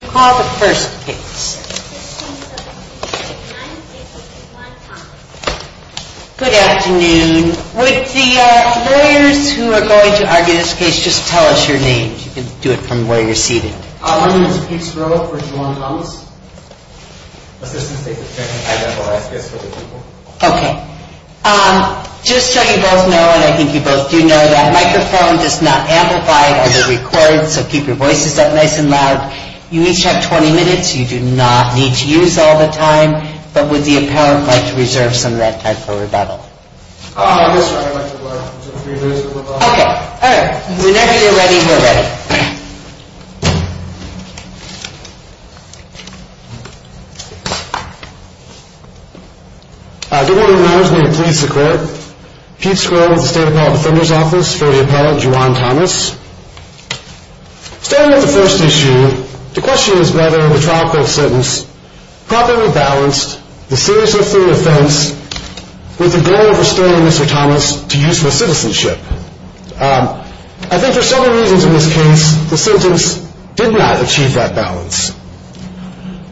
Call the first case. Good afternoon. Would the lawyers who are going to argue this case just tell us your names. You can do it from where you're seated. Just so you both know, and I think you both do know, that microphone does not amplify as it records, so keep your voices up nice and loud. You each have 20 minutes. You do not need to use all the time, but would the appellant like to reserve some of that time for rebuttal? Whenever you're ready, we're ready. Good morning. My name is Peter Skrill with the State Appellate Defender's Office. For the appellant, Juwan Thomas. Starting with the first issue, the question is whether the trial court sentence properly balanced the serious or free offense with the goal of restoring Mr. Thomas to useful citizenship. I think there are several reasons in this case the sentence did not achieve that balance.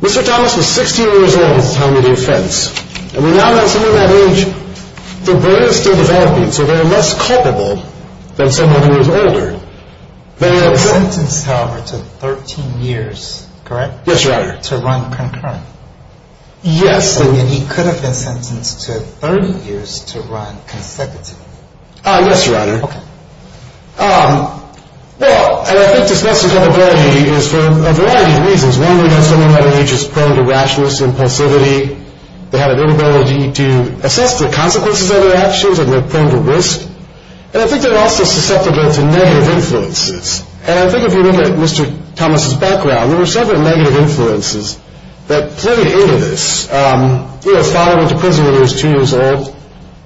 Mr. Thomas was 16 years old at the time of the offense, and we now know that at that age, the brain is still developing, so they are less culpable than someone who is older. The sentence, however, took 13 years, correct? Yes, Your Honor. To run concurrently. Yes. And he could have been sentenced to 30 years to run consecutively. Yes, Your Honor. Okay. Well, and I think this less culpability is for a variety of reasons. One, we know someone at that age is prone to rashness, impulsivity. They have an inability to assess the consequences of their actions, and they're prone to risk. And I think they're also susceptible to negative influences. And I think if you look at Mr. Thomas' background, there were several negative influences that played into this. You know, his father went to prison when he was two years old.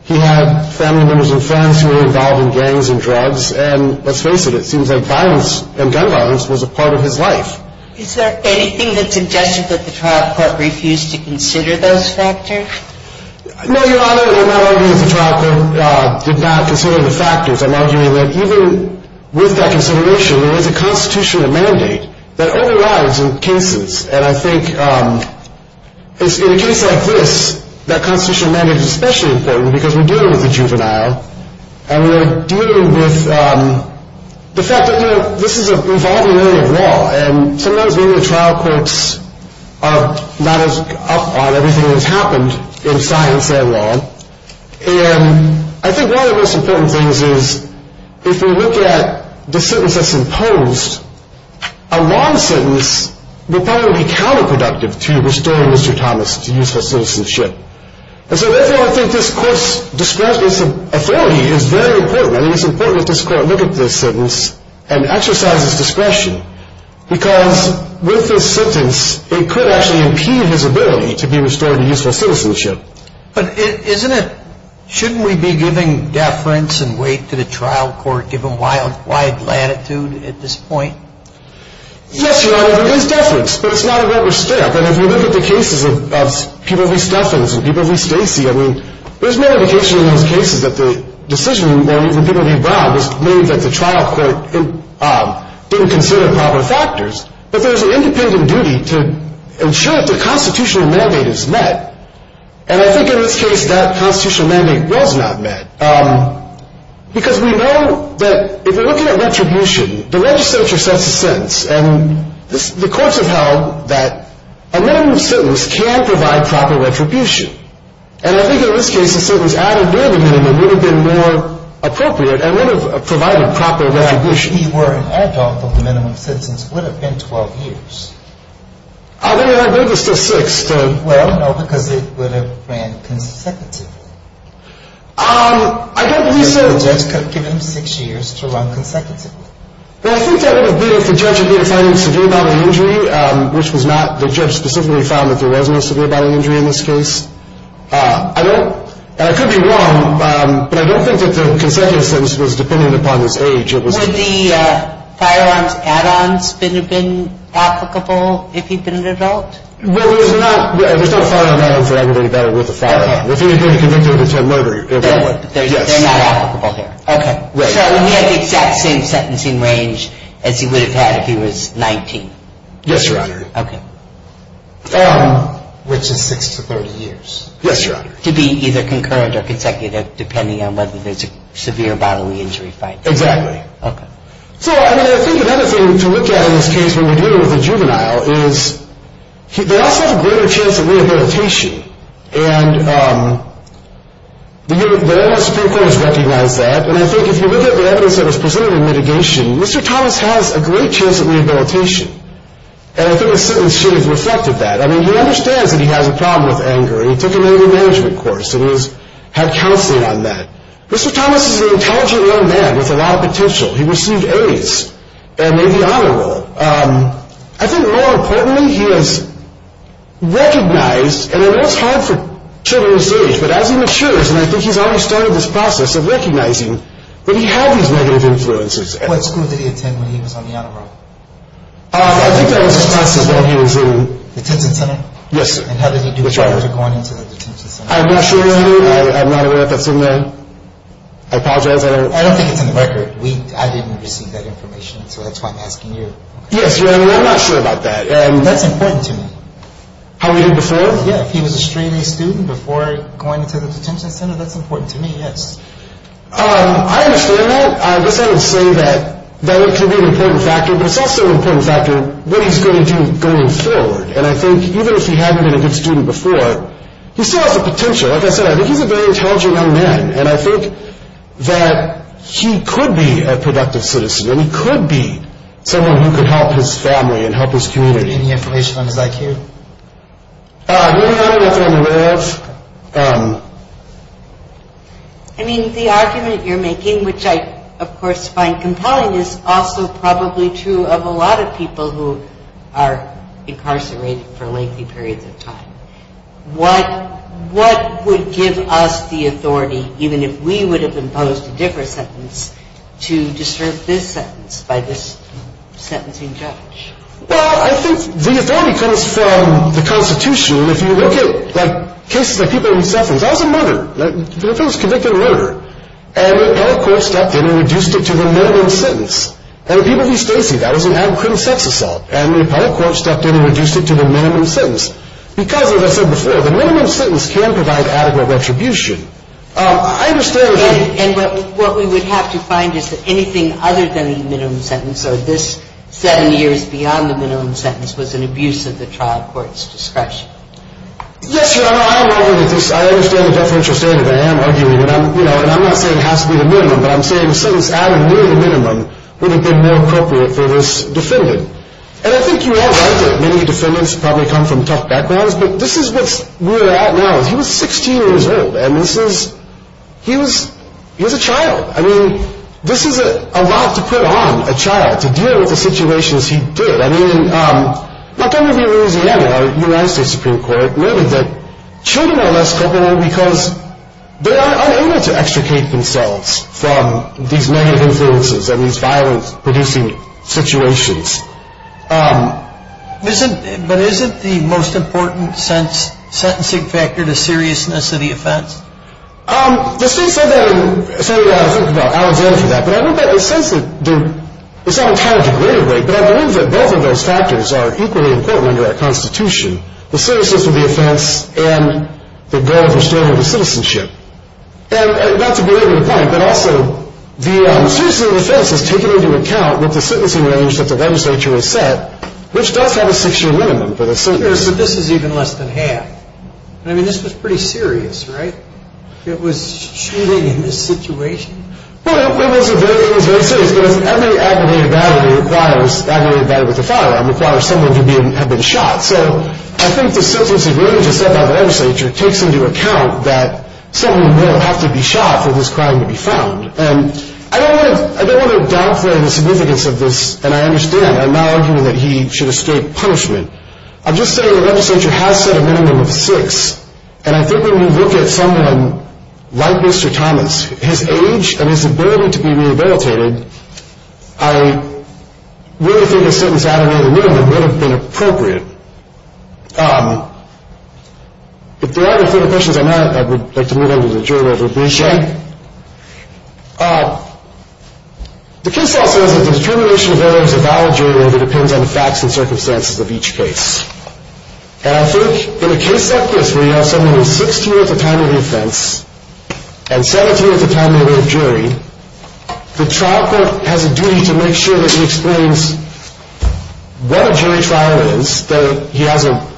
He had family members and friends who were involved in gangs and drugs. And let's face it, it seems like violence and gun violence was a part of his life. Is there anything that suggests that the trial court refused to consider those factors? No, Your Honor, I'm not arguing that the trial court did not consider the factors. I'm arguing that even with that consideration, there is a constitutional mandate that overrides in cases. And I think in a case like this, that constitutional mandate is especially important because we're dealing with a juvenile, and we're dealing with the fact that this is an evolving area of law. And sometimes maybe the trial courts are not as up on everything that's happened in science and law. And I think one of the most important things is if we look at the sentence that's imposed, a long sentence would probably be counterproductive to restoring Mr. Thomas' useful citizenship. And so therefore, I think this court's discretion and authority is very important. I think it's important that this court look at this sentence and exercise its discretion. Because with this sentence, it could actually impede his ability to be restored to useful citizenship. But shouldn't we be giving deference and weight to the trial court given wide latitude at this point? Yes, Your Honor, there is deference, but it's not a rubber stamp. And if we look at the cases of people like Stephens and people like Stacy, I mean, there's no indication in those cases that the decision when people leave Brown was made that the trial court didn't consider proper factors. But there's an independent duty to ensure that the constitutional mandate is met. And I think in this case, that constitutional mandate was not met. Because we know that if you're looking at retribution, the legislature sets a sentence. And the courts have held that a minimum sentence can provide proper retribution. And I think in this case, a sentence added near the minimum would have been more appropriate and would have provided proper retribution. If he were an adult, the minimum sentence would have been 12 years. I think it was still six. Well, no, because it would have ran consecutively. I don't believe so. The judge could have given him six years to run consecutively. Well, I think that would have been if the judge had been finding severe bodily injury, which was not. The judge specifically found that there was no severe bodily injury in this case. And I could be wrong, but I don't think that the consecutive sentence was dependent upon his age. Would the firearms add-ons have been applicable if he'd been an adult? Well, there's not a firearm add-on for everybody that are worth a firearm. If he had been a convict of attempted murder, it would. They're not applicable here. Okay. So he had the exact same sentencing range as he would have had if he was 19? Yes, Your Honor. Okay. Which is six to 30 years. Yes, Your Honor. To be either concurrent or consecutive, depending on whether there's a severe bodily injury fight. Exactly. Okay. So, I mean, I think another thing to look at in this case when we're dealing with a juvenile is they also have a greater chance of rehabilitation. And the U.S. Supreme Court has recognized that. And I think if you look at the evidence that was presented in mitigation, Mr. Thomas has a great chance of rehabilitation. And I think the sentence should have reflected that. I mean, he understands that he has a problem with anger, and he took an anger management course and had counseling on that. Mr. Thomas is an intelligent young man with a lot of potential. He received A's and made the honor roll. I think more importantly, he has recognized, and I know it's hard for children his age, but as he matures, and I think he's already started this process of recognizing that he had these negative influences. What school did he attend when he was on the honor roll? I think that was as far as I know he was in. Detention center? Yes, sir. And how did he do it? I'm not sure either. I'm not aware if that's in there. I apologize. I don't think it's in the record. I didn't receive that information, so that's why I'm asking you. Yes, I mean, I'm not sure about that. That's important to me. How he did before? Yeah, if he was a straight-A student before going into the detention center, that's important to me, yes. I understand that. I guess I would say that that could be an important factor, but it's also an important factor what he's going to do going forward. And I think even if he hadn't been a good student before, he still has the potential. Like I said, I think he's a very intelligent young man. And I think that he could be a productive citizen. And he could be someone who could help his family and help his community. Any information on his IQ? I don't know if I'm aware of. I mean, the argument you're making, which I, of course, find compelling, is also probably true of a lot of people who are incarcerated for lengthy periods of time. What would give us the authority, even if we would have imposed a different sentence, to disturb this sentence by this sentencing judge? Well, I think the authority comes from the Constitution. If you look at, like, cases of people who suffer, if I was a murderer, like, if I was convicted of murder, and the appellate court stepped in and reduced it to the minimum sentence, and the people who stay, see, that was an ad crim sex assault, and the appellate court stepped in and reduced it to the minimum sentence. Because, as I said before, the minimum sentence can provide adequate retribution. I understand that. And what we would have to find is that anything other than a minimum sentence, or this seven years beyond the minimum sentence, was an abuse of the trial court's discretion. Yes, Your Honor, I'm arguing that this, I understand the deferential statement. I am arguing it. And I'm not saying it has to be the minimum, but I'm saying a sentence added near the minimum would have been more appropriate for this defendant. And I think you all know that many defendants probably come from tough backgrounds, but this is what we're at now. He was 16 years old, and this is, he was, he was a child. I mean, this is a lot to put on a child, to deal with the situations he did. I mean, Montgomery, Louisiana, a United States Supreme Court, children are less culpable because they are unable to extricate themselves from these negative influences and these violence-producing situations. But isn't the most important sentencing factor the seriousness of the offense? The state said that, and I think about Alexander for that, but I don't think it says that, it's not entirely degraded, but I believe that both of those factors are equally important under our Constitution. The seriousness of the offense and the goal of restoring the citizenship. And not to belabor the point, but also the seriousness of the offense has taken into account what the sentencing range that the legislature has set, which does have a six-year minimum for the sentence. But this is even less than half. I mean, this was pretty serious, right? It was shooting in this situation? Well, it was very serious, but as every aggravated battery requires, aggravated battery with a firearm requires someone to have been shot. So I think the sentencing range set by the legislature takes into account that someone will have to be shot for this crime to be found. And I don't want to downplay the significance of this, and I understand. I'm not arguing that he should escape punishment. I'm just saying the legislature has set a minimum of six, and I think when you look at someone like Mr. Thomas, his age and his ability to be rehabilitated, I really think a sentence added to the minimum would have been appropriate. If there are no further questions, I would like to move on to the jury roll. Sure. The case law says that the determination of error is a valid jury roll that depends on the facts and circumstances of each case. And I think in a case like this where you have someone who is 16 at the time of the offense and 17 at the time of the jury, the trial court has a duty to make sure that he explains what a jury trial is, that he has a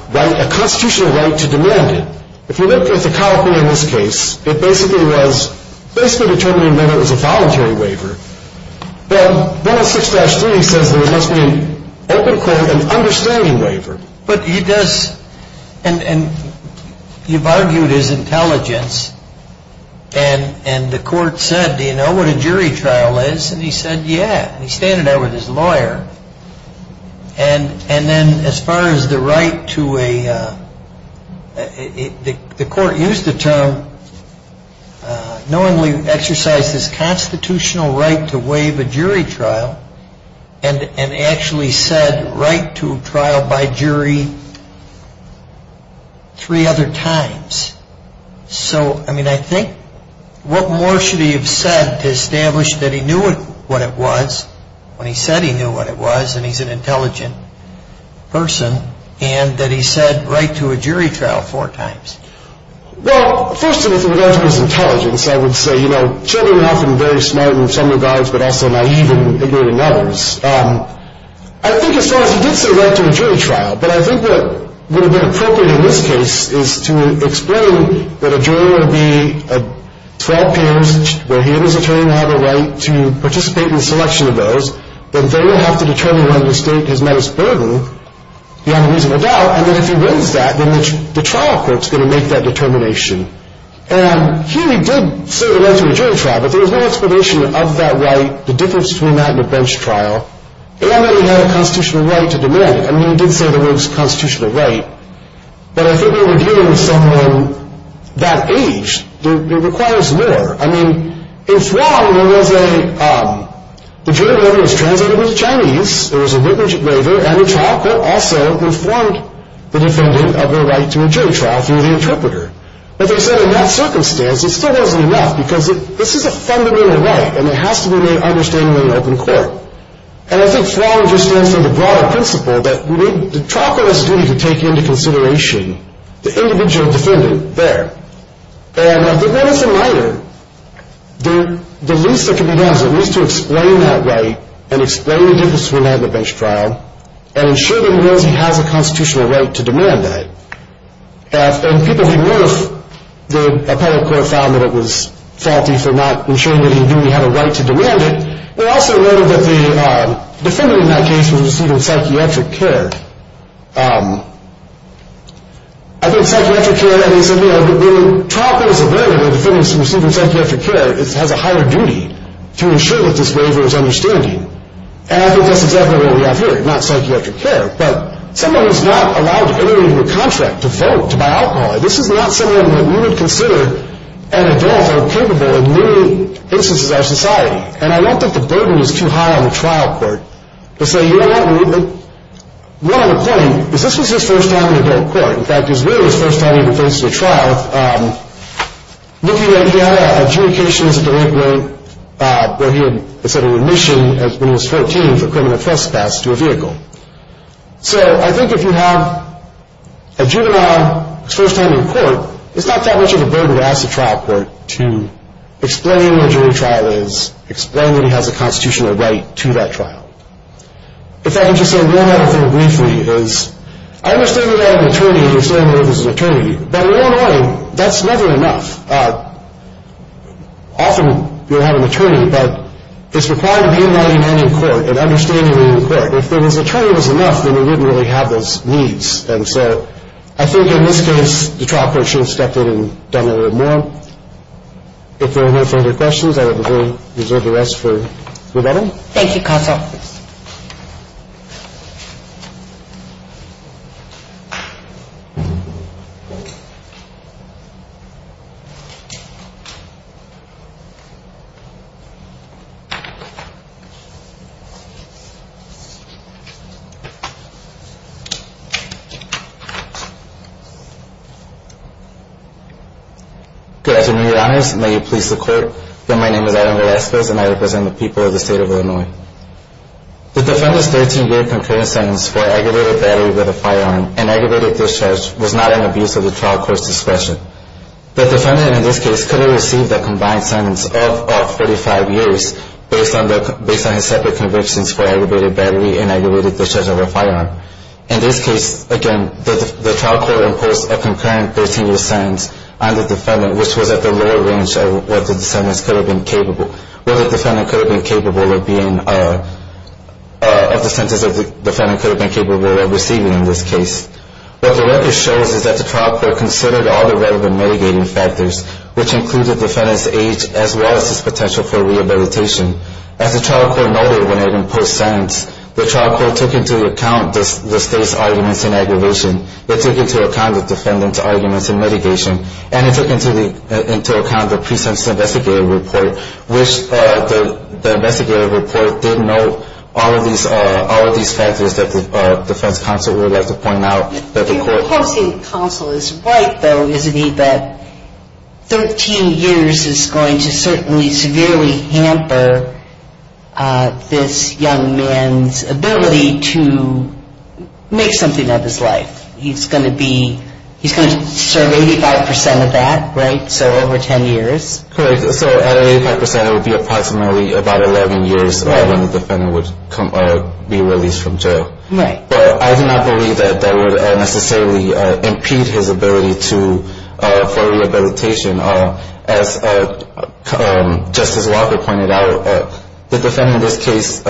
constitutional right to demand it. If you look at the California risk case, it basically was basically determining whether it was a voluntary waiver. But Bill 6-3 says there must be an open court and understanding waiver. But he does, and you've argued his intelligence, and the court said, do you know what a jury trial is? And he said, yeah. He's standing there with his lawyer. And then as far as the right to a, the court used the term, knowingly exercised his constitutional right to waive a jury trial and actually said right to trial by jury three other times. So, I mean, I think what more should he have said to establish that he knew what it was when he said he knew what it was and he's an intelligent person and that he said right to a jury trial four times? Well, first of all, if it was intelligence, I would say, you know, children are often very smart in some regards but also naive and ignorant in others. I think as far as he did say right to a jury trial, but I think what would have been appropriate in this case is to explain that a jury would be 12 peers where he and his attorney have a right to participate in the selection of those, that they would have to determine whether to state his menace burden beyond a reasonable doubt, and that if he wins that, then the trial court's going to make that determination. And here he did say right to a jury trial, but there was no explanation of that right, the difference between that and a bench trial, and that he had a constitutional right to demand it. I mean, he did say that it was a constitutional right, but I think when you're dealing with someone that age, it requires more. I mean, in Fwang, there was a, the jury order was translated into Chinese, there was a written waiver, and the trial court also informed the defendant of their right to a jury trial through the interpreter. But they said in that circumstance, it still wasn't enough, because this is a fundamental right, and it has to be made understandable in open court. And I think Fwang just stands for the broader principle that the trial court has a duty to take into consideration the individual defendant there. And I think when it's a minor, the least that can be done is at least to explain that right and explain the difference between that and a bench trial, and ensure that he knows he has a constitutional right to demand that. And people didn't know if the appellate court found that it was faulty for not ensuring that he knew he had a right to demand it. They also noted that the defendant in that case was receiving psychiatric care. I think psychiatric care, and they said, you know, when a trial court is aware that a defendant is receiving psychiatric care, it has a higher duty to ensure that this waiver is understanding. And I think that's exactly what we have here, not psychiatric care. But someone who's not allowed to enter into a contract to vote, to buy alcohol, this is not someone that we would consider an adult or capable in many instances of our society. And I don't think the burden is too high on the trial court to say, you know what, one other point is this was his first time in adult court. In fact, it was really his first time he ever faced a trial. Looking at data, adjudication is a delinquent where he had, let's say, a remission when he was 14 for criminal trespass to a vehicle. So I think if you have a juvenile his first time in court, it's not that much of a burden to ask the trial court to explain what a jury trial is, explain that he has a constitutional right to that trial. If I can just say one other thing briefly, is I understand that you have an attorney, you're standing there as an attorney, but in your mind, that's never enough. Often you'll have an attorney, but it's required to be in writing and in court and understanding the court. If an attorney was enough, then you wouldn't really have those needs. And so I think in this case, the trial court should have stepped in and done a little more. If there are no further questions, I will reserve the rest for Rebecca. Thank you, counsel. Good afternoon, Your Honors. May it please the Court that my name is Adam Velasquez, and I represent the people of the State of Illinois. The defendant's 13-year concurrent sentence for aggravated battery with a firearm and aggravated discharge was not an abuse of the trial court's authority. The defendant, in this case, could have received a combined sentence of 45 years based on his separate convictions for aggravated battery and aggravated discharge of a firearm. In this case, again, the trial court imposed a concurrent 13-year sentence on the defendant, which was at the lower range of what the defendant could have been capable of receiving in this case. What the record shows is that the trial court considered all the relevant mitigating factors, which included the defendant's age as well as his potential for rehabilitation. As the trial court noted when it imposed sentence, the trial court took into account the State's arguments in aggravation. It took into account the defendant's arguments in mitigation, and it took into account the precinct's investigative report, which the investigative report did note all of these factors that the defense counsel would like to point out. If your opposing counsel is right, though, isn't he, that 13 years is going to certainly severely hamper this young man's ability to make something of his life? He's going to serve 85 percent of that, right? So over 10 years. Correct. So at 85 percent, it would be approximately about 11 years when the defendant would be released from jail. Right. But I do not believe that that would necessarily impede his ability for rehabilitation. As Justice Walker pointed out, the defendant in this case,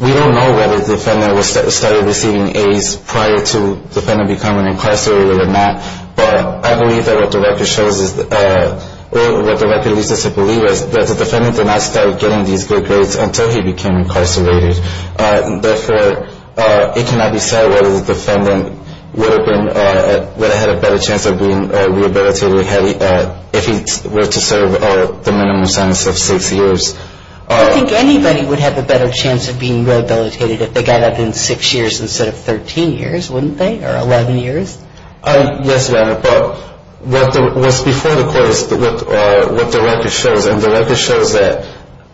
we don't know whether the defendant started receiving A's prior to the defendant becoming incarcerated or not, but I believe that what the record shows is, or what the record leads us to believe, is that the defendant did not start getting these good grades until he became incarcerated. Therefore, it cannot be said whether the defendant would have had a better chance of being rehabilitated if he were to serve the minimum sentence of six years. I think anybody would have a better chance of being rehabilitated if they got out in six years instead of 13 years, wouldn't they, or 11 years? Yes, ma'am. But what's before the court is what the record shows, and the record shows that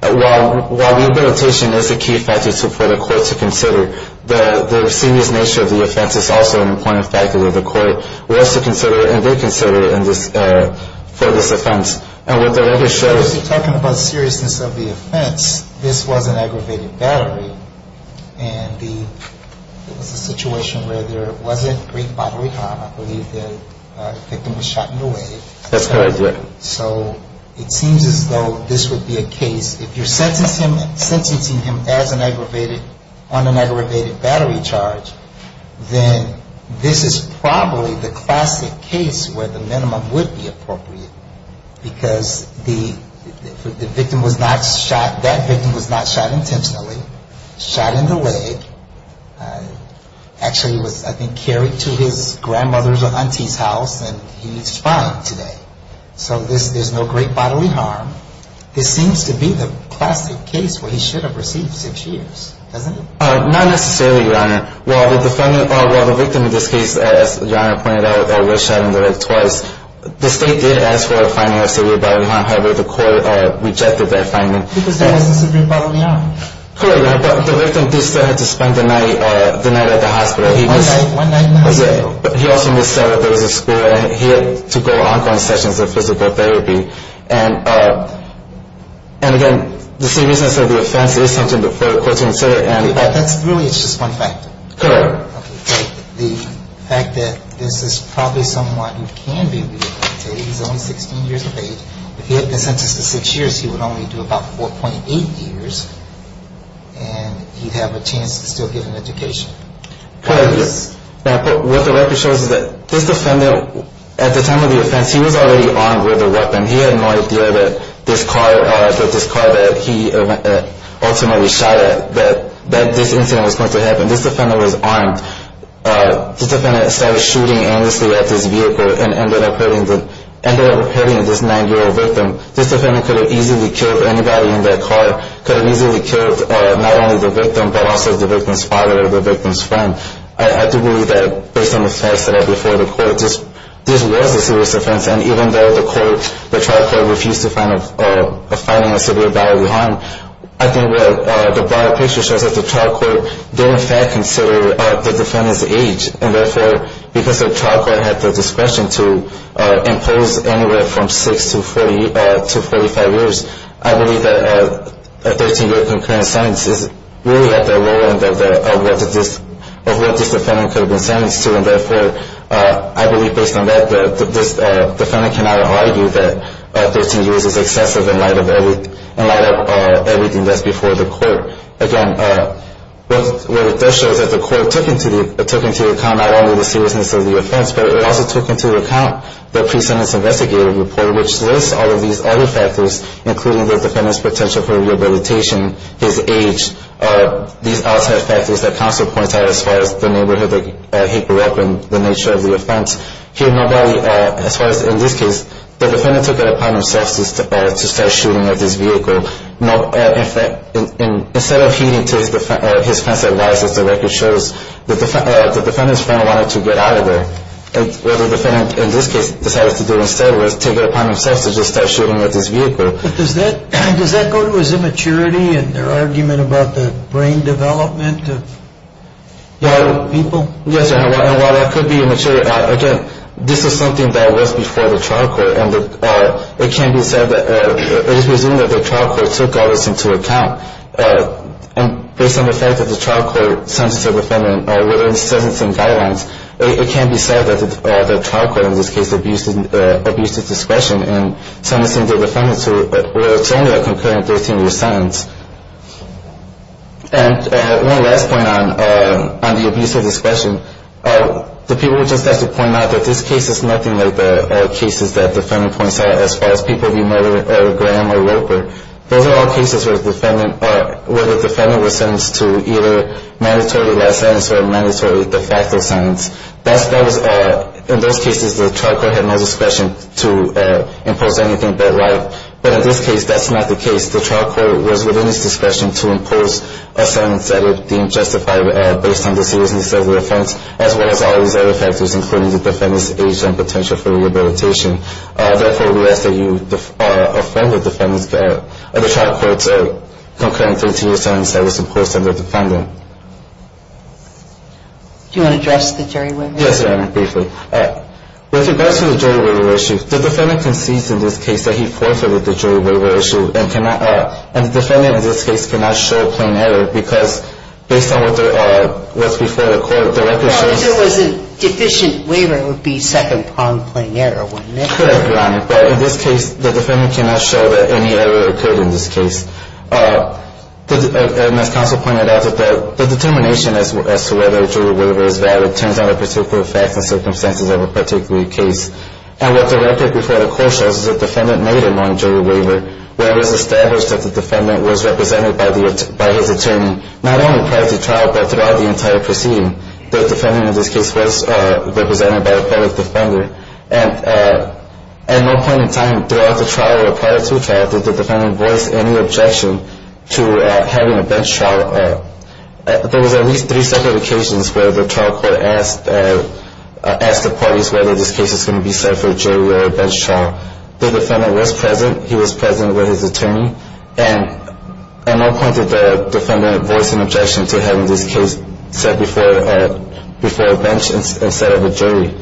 while rehabilitation is a key factor for the court to consider, the serious nature of the offense is also an important factor that the court wants to consider and reconsider for this offense. And what the record shows… So if you're talking about seriousness of the offense, this was an aggravated battery, and it was a situation where there wasn't great battery time. I believe the victim was shot in the leg. That's correct. So it seems as though this would be a case, if you're sentencing him as an aggravated, on an aggravated battery charge, then this is probably the classic case where the minimum would be appropriate, because the victim was not shot. That victim was not shot intentionally, shot in the leg. Actually, he was, I think, carried to his grandmother's or auntie's house, and he's fine today. So there's no great bodily harm. This seems to be the classic case where he should have received six years, doesn't it? Not necessarily, Your Honor. While the victim in this case, as Your Honor pointed out, was shot in the leg twice, the state did ask for a finding of severe bodily harm. However, the court rejected that finding. Because there wasn't severe bodily harm. Correct, Your Honor. But the victim did still have to spend the night at the hospital. One night in the hospital. Okay. But he also missed several days of school, and he had to go on-going sessions of physical therapy. And again, the seriousness of the offense is something for the court to consider. That's really just one factor. Correct. The fact that this is probably someone who can be rehabilitated. He's only 16 years of age. If he had been sentenced to six years, he would only do about 4.8 years, and he'd have a chance to still get an education. What the record shows is that this defendant, at the time of the offense, he was already armed with a weapon. He had no idea that this car that he ultimately shot at, that this incident was going to happen. When this defendant was armed, this defendant started shooting anxiously at this vehicle and ended up hurting this 9-year-old victim. This defendant could have easily killed anybody in that car. Could have easily killed not only the victim, but also the victim's father or the victim's friend. I do believe that based on the facts that are before the court, this was a serious offense. And even though the trial court refused to find a finding of severe bodily harm, I think the broader picture shows that the trial court did in fact consider the defendant's age. And therefore, because the trial court had the discretion to impose anywhere from six to 45 years, I believe that a 13-year concurrent sentence really had the lower end of what this defendant could have been sentenced to. And therefore, I believe based on that, this defendant cannot argue that 13 years is excessive in light of everything that's before the court. Again, what it does show is that the court took into account not only the seriousness of the offense, but it also took into account the pre-sentence investigative report, which lists all of these other factors, including the defendant's potential for rehabilitation, his age, these outside factors that counsel points out as far as the neighborhood that he grew up in, the nature of the offense. As far as in this case, the defendant took it upon himself to start shooting at this vehicle. Instead of heeding his friend's advice, as the record shows, the defendant's friend wanted to get out of there. What the defendant in this case decided to do instead was take it upon himself to just start shooting at this vehicle. But does that go to his immaturity and their argument about the brain development of young people? Yes, and while that could be immature, again, this is something that was before the trial court, and it can be said that it is presumed that the trial court took all this into account. And based on the fact that the trial court sentenced the defendant within the sentencing guidelines, it can be said that the trial court in this case abused its discretion in sentencing the defendant to only a concurrent 13-year sentence. And one last point on the abuse of discretion. The people would just have to point out that this case is nothing like the cases that the defendant points out as far as people being murdered by Graham or Roper. Those are all cases where the defendant was sentenced to either mandatory last sentence or mandatory de facto sentence. In those cases, the trial court had no discretion to impose anything but right. But in this case, that's not the case. The trial court was within its discretion to impose a sentence that it deemed justified based on the seriousness of the offense, as well as all these other factors, including the defendant's age and potential for rehabilitation. Therefore, we ask that you affirm the trial court's concurrent 13-year sentence that was imposed on the defendant. Do you want to address the jury waiver? Yes, ma'am, briefly. With regards to the jury waiver issue, the defendant concedes in this case that he forfeited the jury waiver issue and cannot and the defendant in this case cannot show a plain error because based on what was before the court, the record shows Well, if there was a deficient waiver, it would be second on plain error, wouldn't it? Could have, Your Honor. But in this case, the defendant cannot show that any error occurred in this case. And as counsel pointed out, the determination as to whether a jury waiver is valid turns on the particular facts and circumstances of a particular case. And what the record before the court shows is that the defendant made a non-jury waiver where it was established that the defendant was represented by his attorney not only prior to trial but throughout the entire proceeding. The defendant in this case was represented by a public defender. And at no point in time throughout the trial or prior to trial did the defendant voice any objection to having a bench trial. There was at least three separate occasions where the trial court asked the parties whether this case was going to be set for a jury or a bench trial. The defendant was present. He was present with his attorney. And at no point did the defendant voice an objection to having this case set before a bench instead of a jury.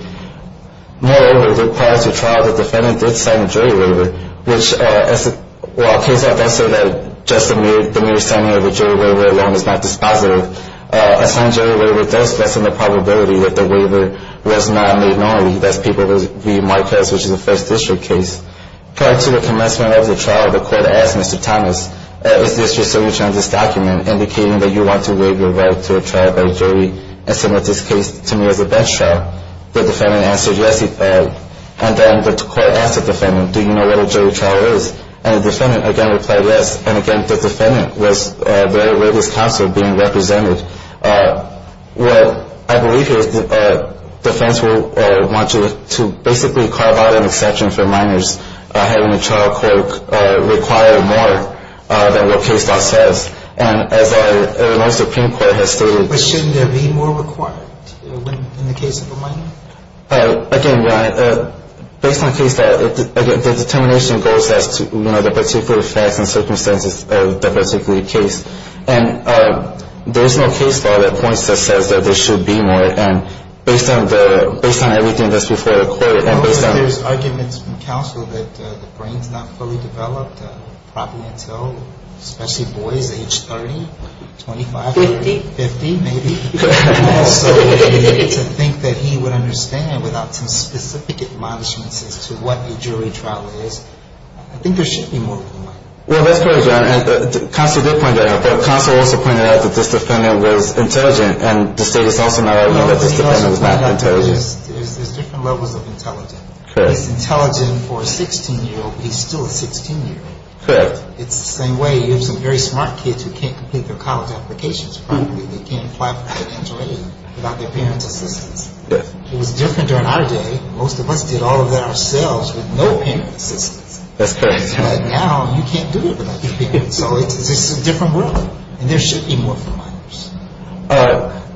Moreover, prior to trial, the defendant did sign a jury waiver, which while case law does say that just the mere signing of a jury waiver alone is not dispositive, a signed jury waiver does lessen the probability that the waiver rests not on the ignorant. That's people who read my case, which is a First District case. Prior to the commencement of the trial, the court asked Mr. Thomas, is this your signature on this document indicating that you want to waive your right to a trial by jury and submit this case to me as a bench trial? The defendant answered, yes, he had. And then the court asked the defendant, do you know what a jury trial is? And the defendant, again, replied yes. And, again, the defendant was there with his counsel being represented. What I believe here is the defense will want you to basically carve out an exception for minors, having a trial court require more than what case law says. And as our Supreme Court has stated- Again, Ryan, based on case law, the determination goes as to, you know, the particular facts and circumstances of the particular case. And there is no case law that points to a sense that there should be more. And based on everything that's before the court and based on- There's arguments from counsel that the brain's not fully developed probably until especially boys age 30, 25- 50. 50, maybe. And also to think that he would understand without some specific admonishments as to what a jury trial is. I think there should be more than one. Well, that's correct, Your Honor. Counsel did point that out. Counsel also pointed out that this defendant was intelligent. And the state is also not allowing that this defendant was not intelligent. There's different levels of intelligence. Correct. He's intelligent for a 16-year-old, but he's still a 16-year-old. Correct. It's the same way. You have some very smart kids who can't complete their college applications properly. They can't apply for financial aid without their parents' assistance. Yes. It was different during our day. Most of us did all of that ourselves with no parents' assistance. That's correct. But now you can't do it without your parents. So it's a different world. And there should be more for minors.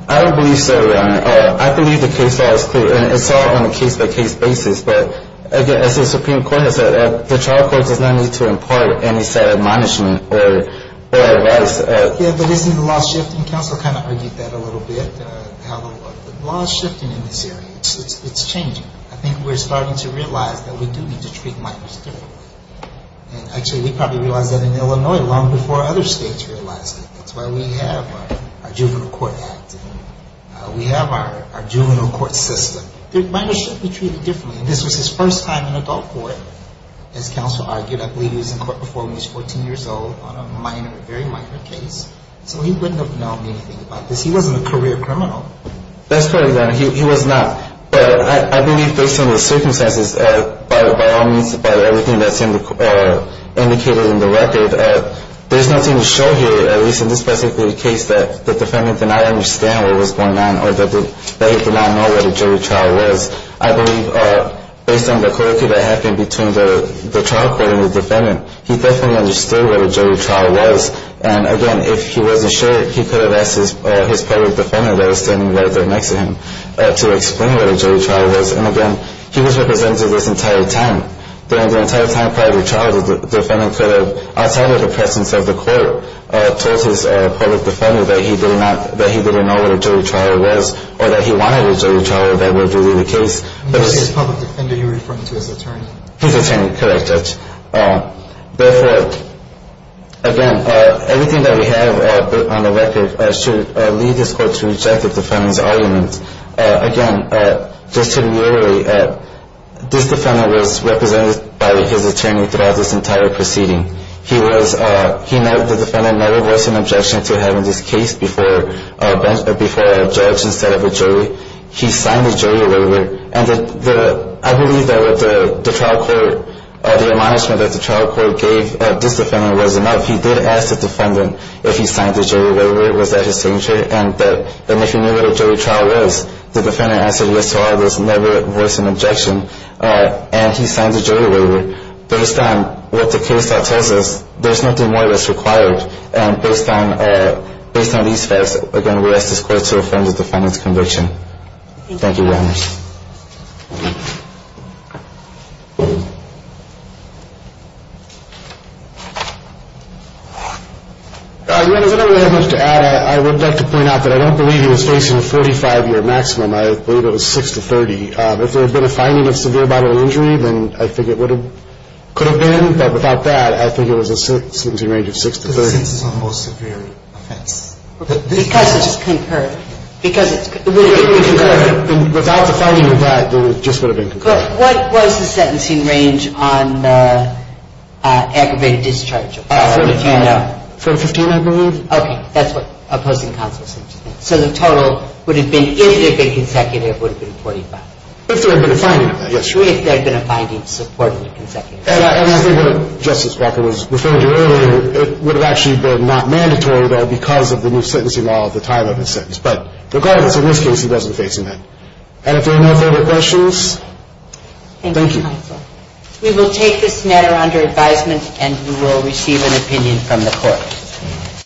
I believe so, Your Honor. I believe the case law is clear. And it's all on a case-by-case basis. But, again, as the Supreme Court has said, the trial court does not need to impart any set of monishment or advice. Yes, but isn't the law shifting? Counsel kind of argued that a little bit, how the law is shifting in this area. It's changing. I think we're starting to realize that we do need to treat minors differently. And, actually, we probably realized that in Illinois long before other states realized it. That's why we have our Juvenile Court Act. We have our juvenile court system. Minors should be treated differently. This was his first time in adult court, as counsel argued. I believe he was in court before when he was 14 years old on a very minor case. So he wouldn't have known anything about this. He wasn't a career criminal. That's correct, Your Honor. He was not. But I believe based on the circumstances, by all means, by everything that's indicated in the record, there's nothing to show here, at least in this specific case, that the defendant did not understand what was going on or that he did not know what a jury trial was. I believe based on the curricula that happened between the trial court and the defendant, he definitely understood what a jury trial was. And, again, if he wasn't sure, he could have asked his public defendant that was standing right there next to him to explain what a jury trial was. And, again, he was represented this entire time. During the entire time prior to the trial, the defendant could have, outside of the presence of the court, told his public defendant that he didn't know what a jury trial was or that he wanted a jury trial if that were to be the case. He was his public defendant. Are you referring to his attorney? His attorney. Correct, Judge. Therefore, again, everything that we have on the record should lead this court to reject the defendant's argument. Again, just to reiterate, this defendant was represented by his attorney throughout this entire proceeding. The defendant never voiced an objection to having this case before a judge instead of a jury. He signed the jury order. And I believe that with the trial court, the admonishment that the trial court gave this defendant was enough. He did ask the defendant if he signed the jury order, was that his signature, and that if he knew what a jury trial was, the defendant answered yes to all those, never voiced an objection. And he signed the jury order. Based on what the case that tells us, there's nothing more that's required. And based on these facts, again, we ask this court to affirm the defendant's conviction. Thank you very much. I would like to point out that I don't believe he was facing a 45-year maximum. I believe it was 6 to 30. If there had been a finding of severe bodily injury, then I think it could have been. But without that, I think it was a sentencing range of 6 to 30. But since it's a more severe offense. Because it's concurrent. But what was the sentencing range on aggravated discharge? 4 to 15, I believe. Okay, that's what opposing counsel said. So the total would have been, if it had been consecutive, it would have been 45. If there had been a finding of that, yes. If there had been a finding supporting consecutive. And I think what Justice Brecher was referring to earlier, it would have actually been not mandatory, though, because of the new sentencing law at the time of his sentence. But regardless, in this case, he wasn't facing that. And if there are no further questions, thank you. Thank you, counsel. We will take this matter under advisement, and we will receive an opinion from the court.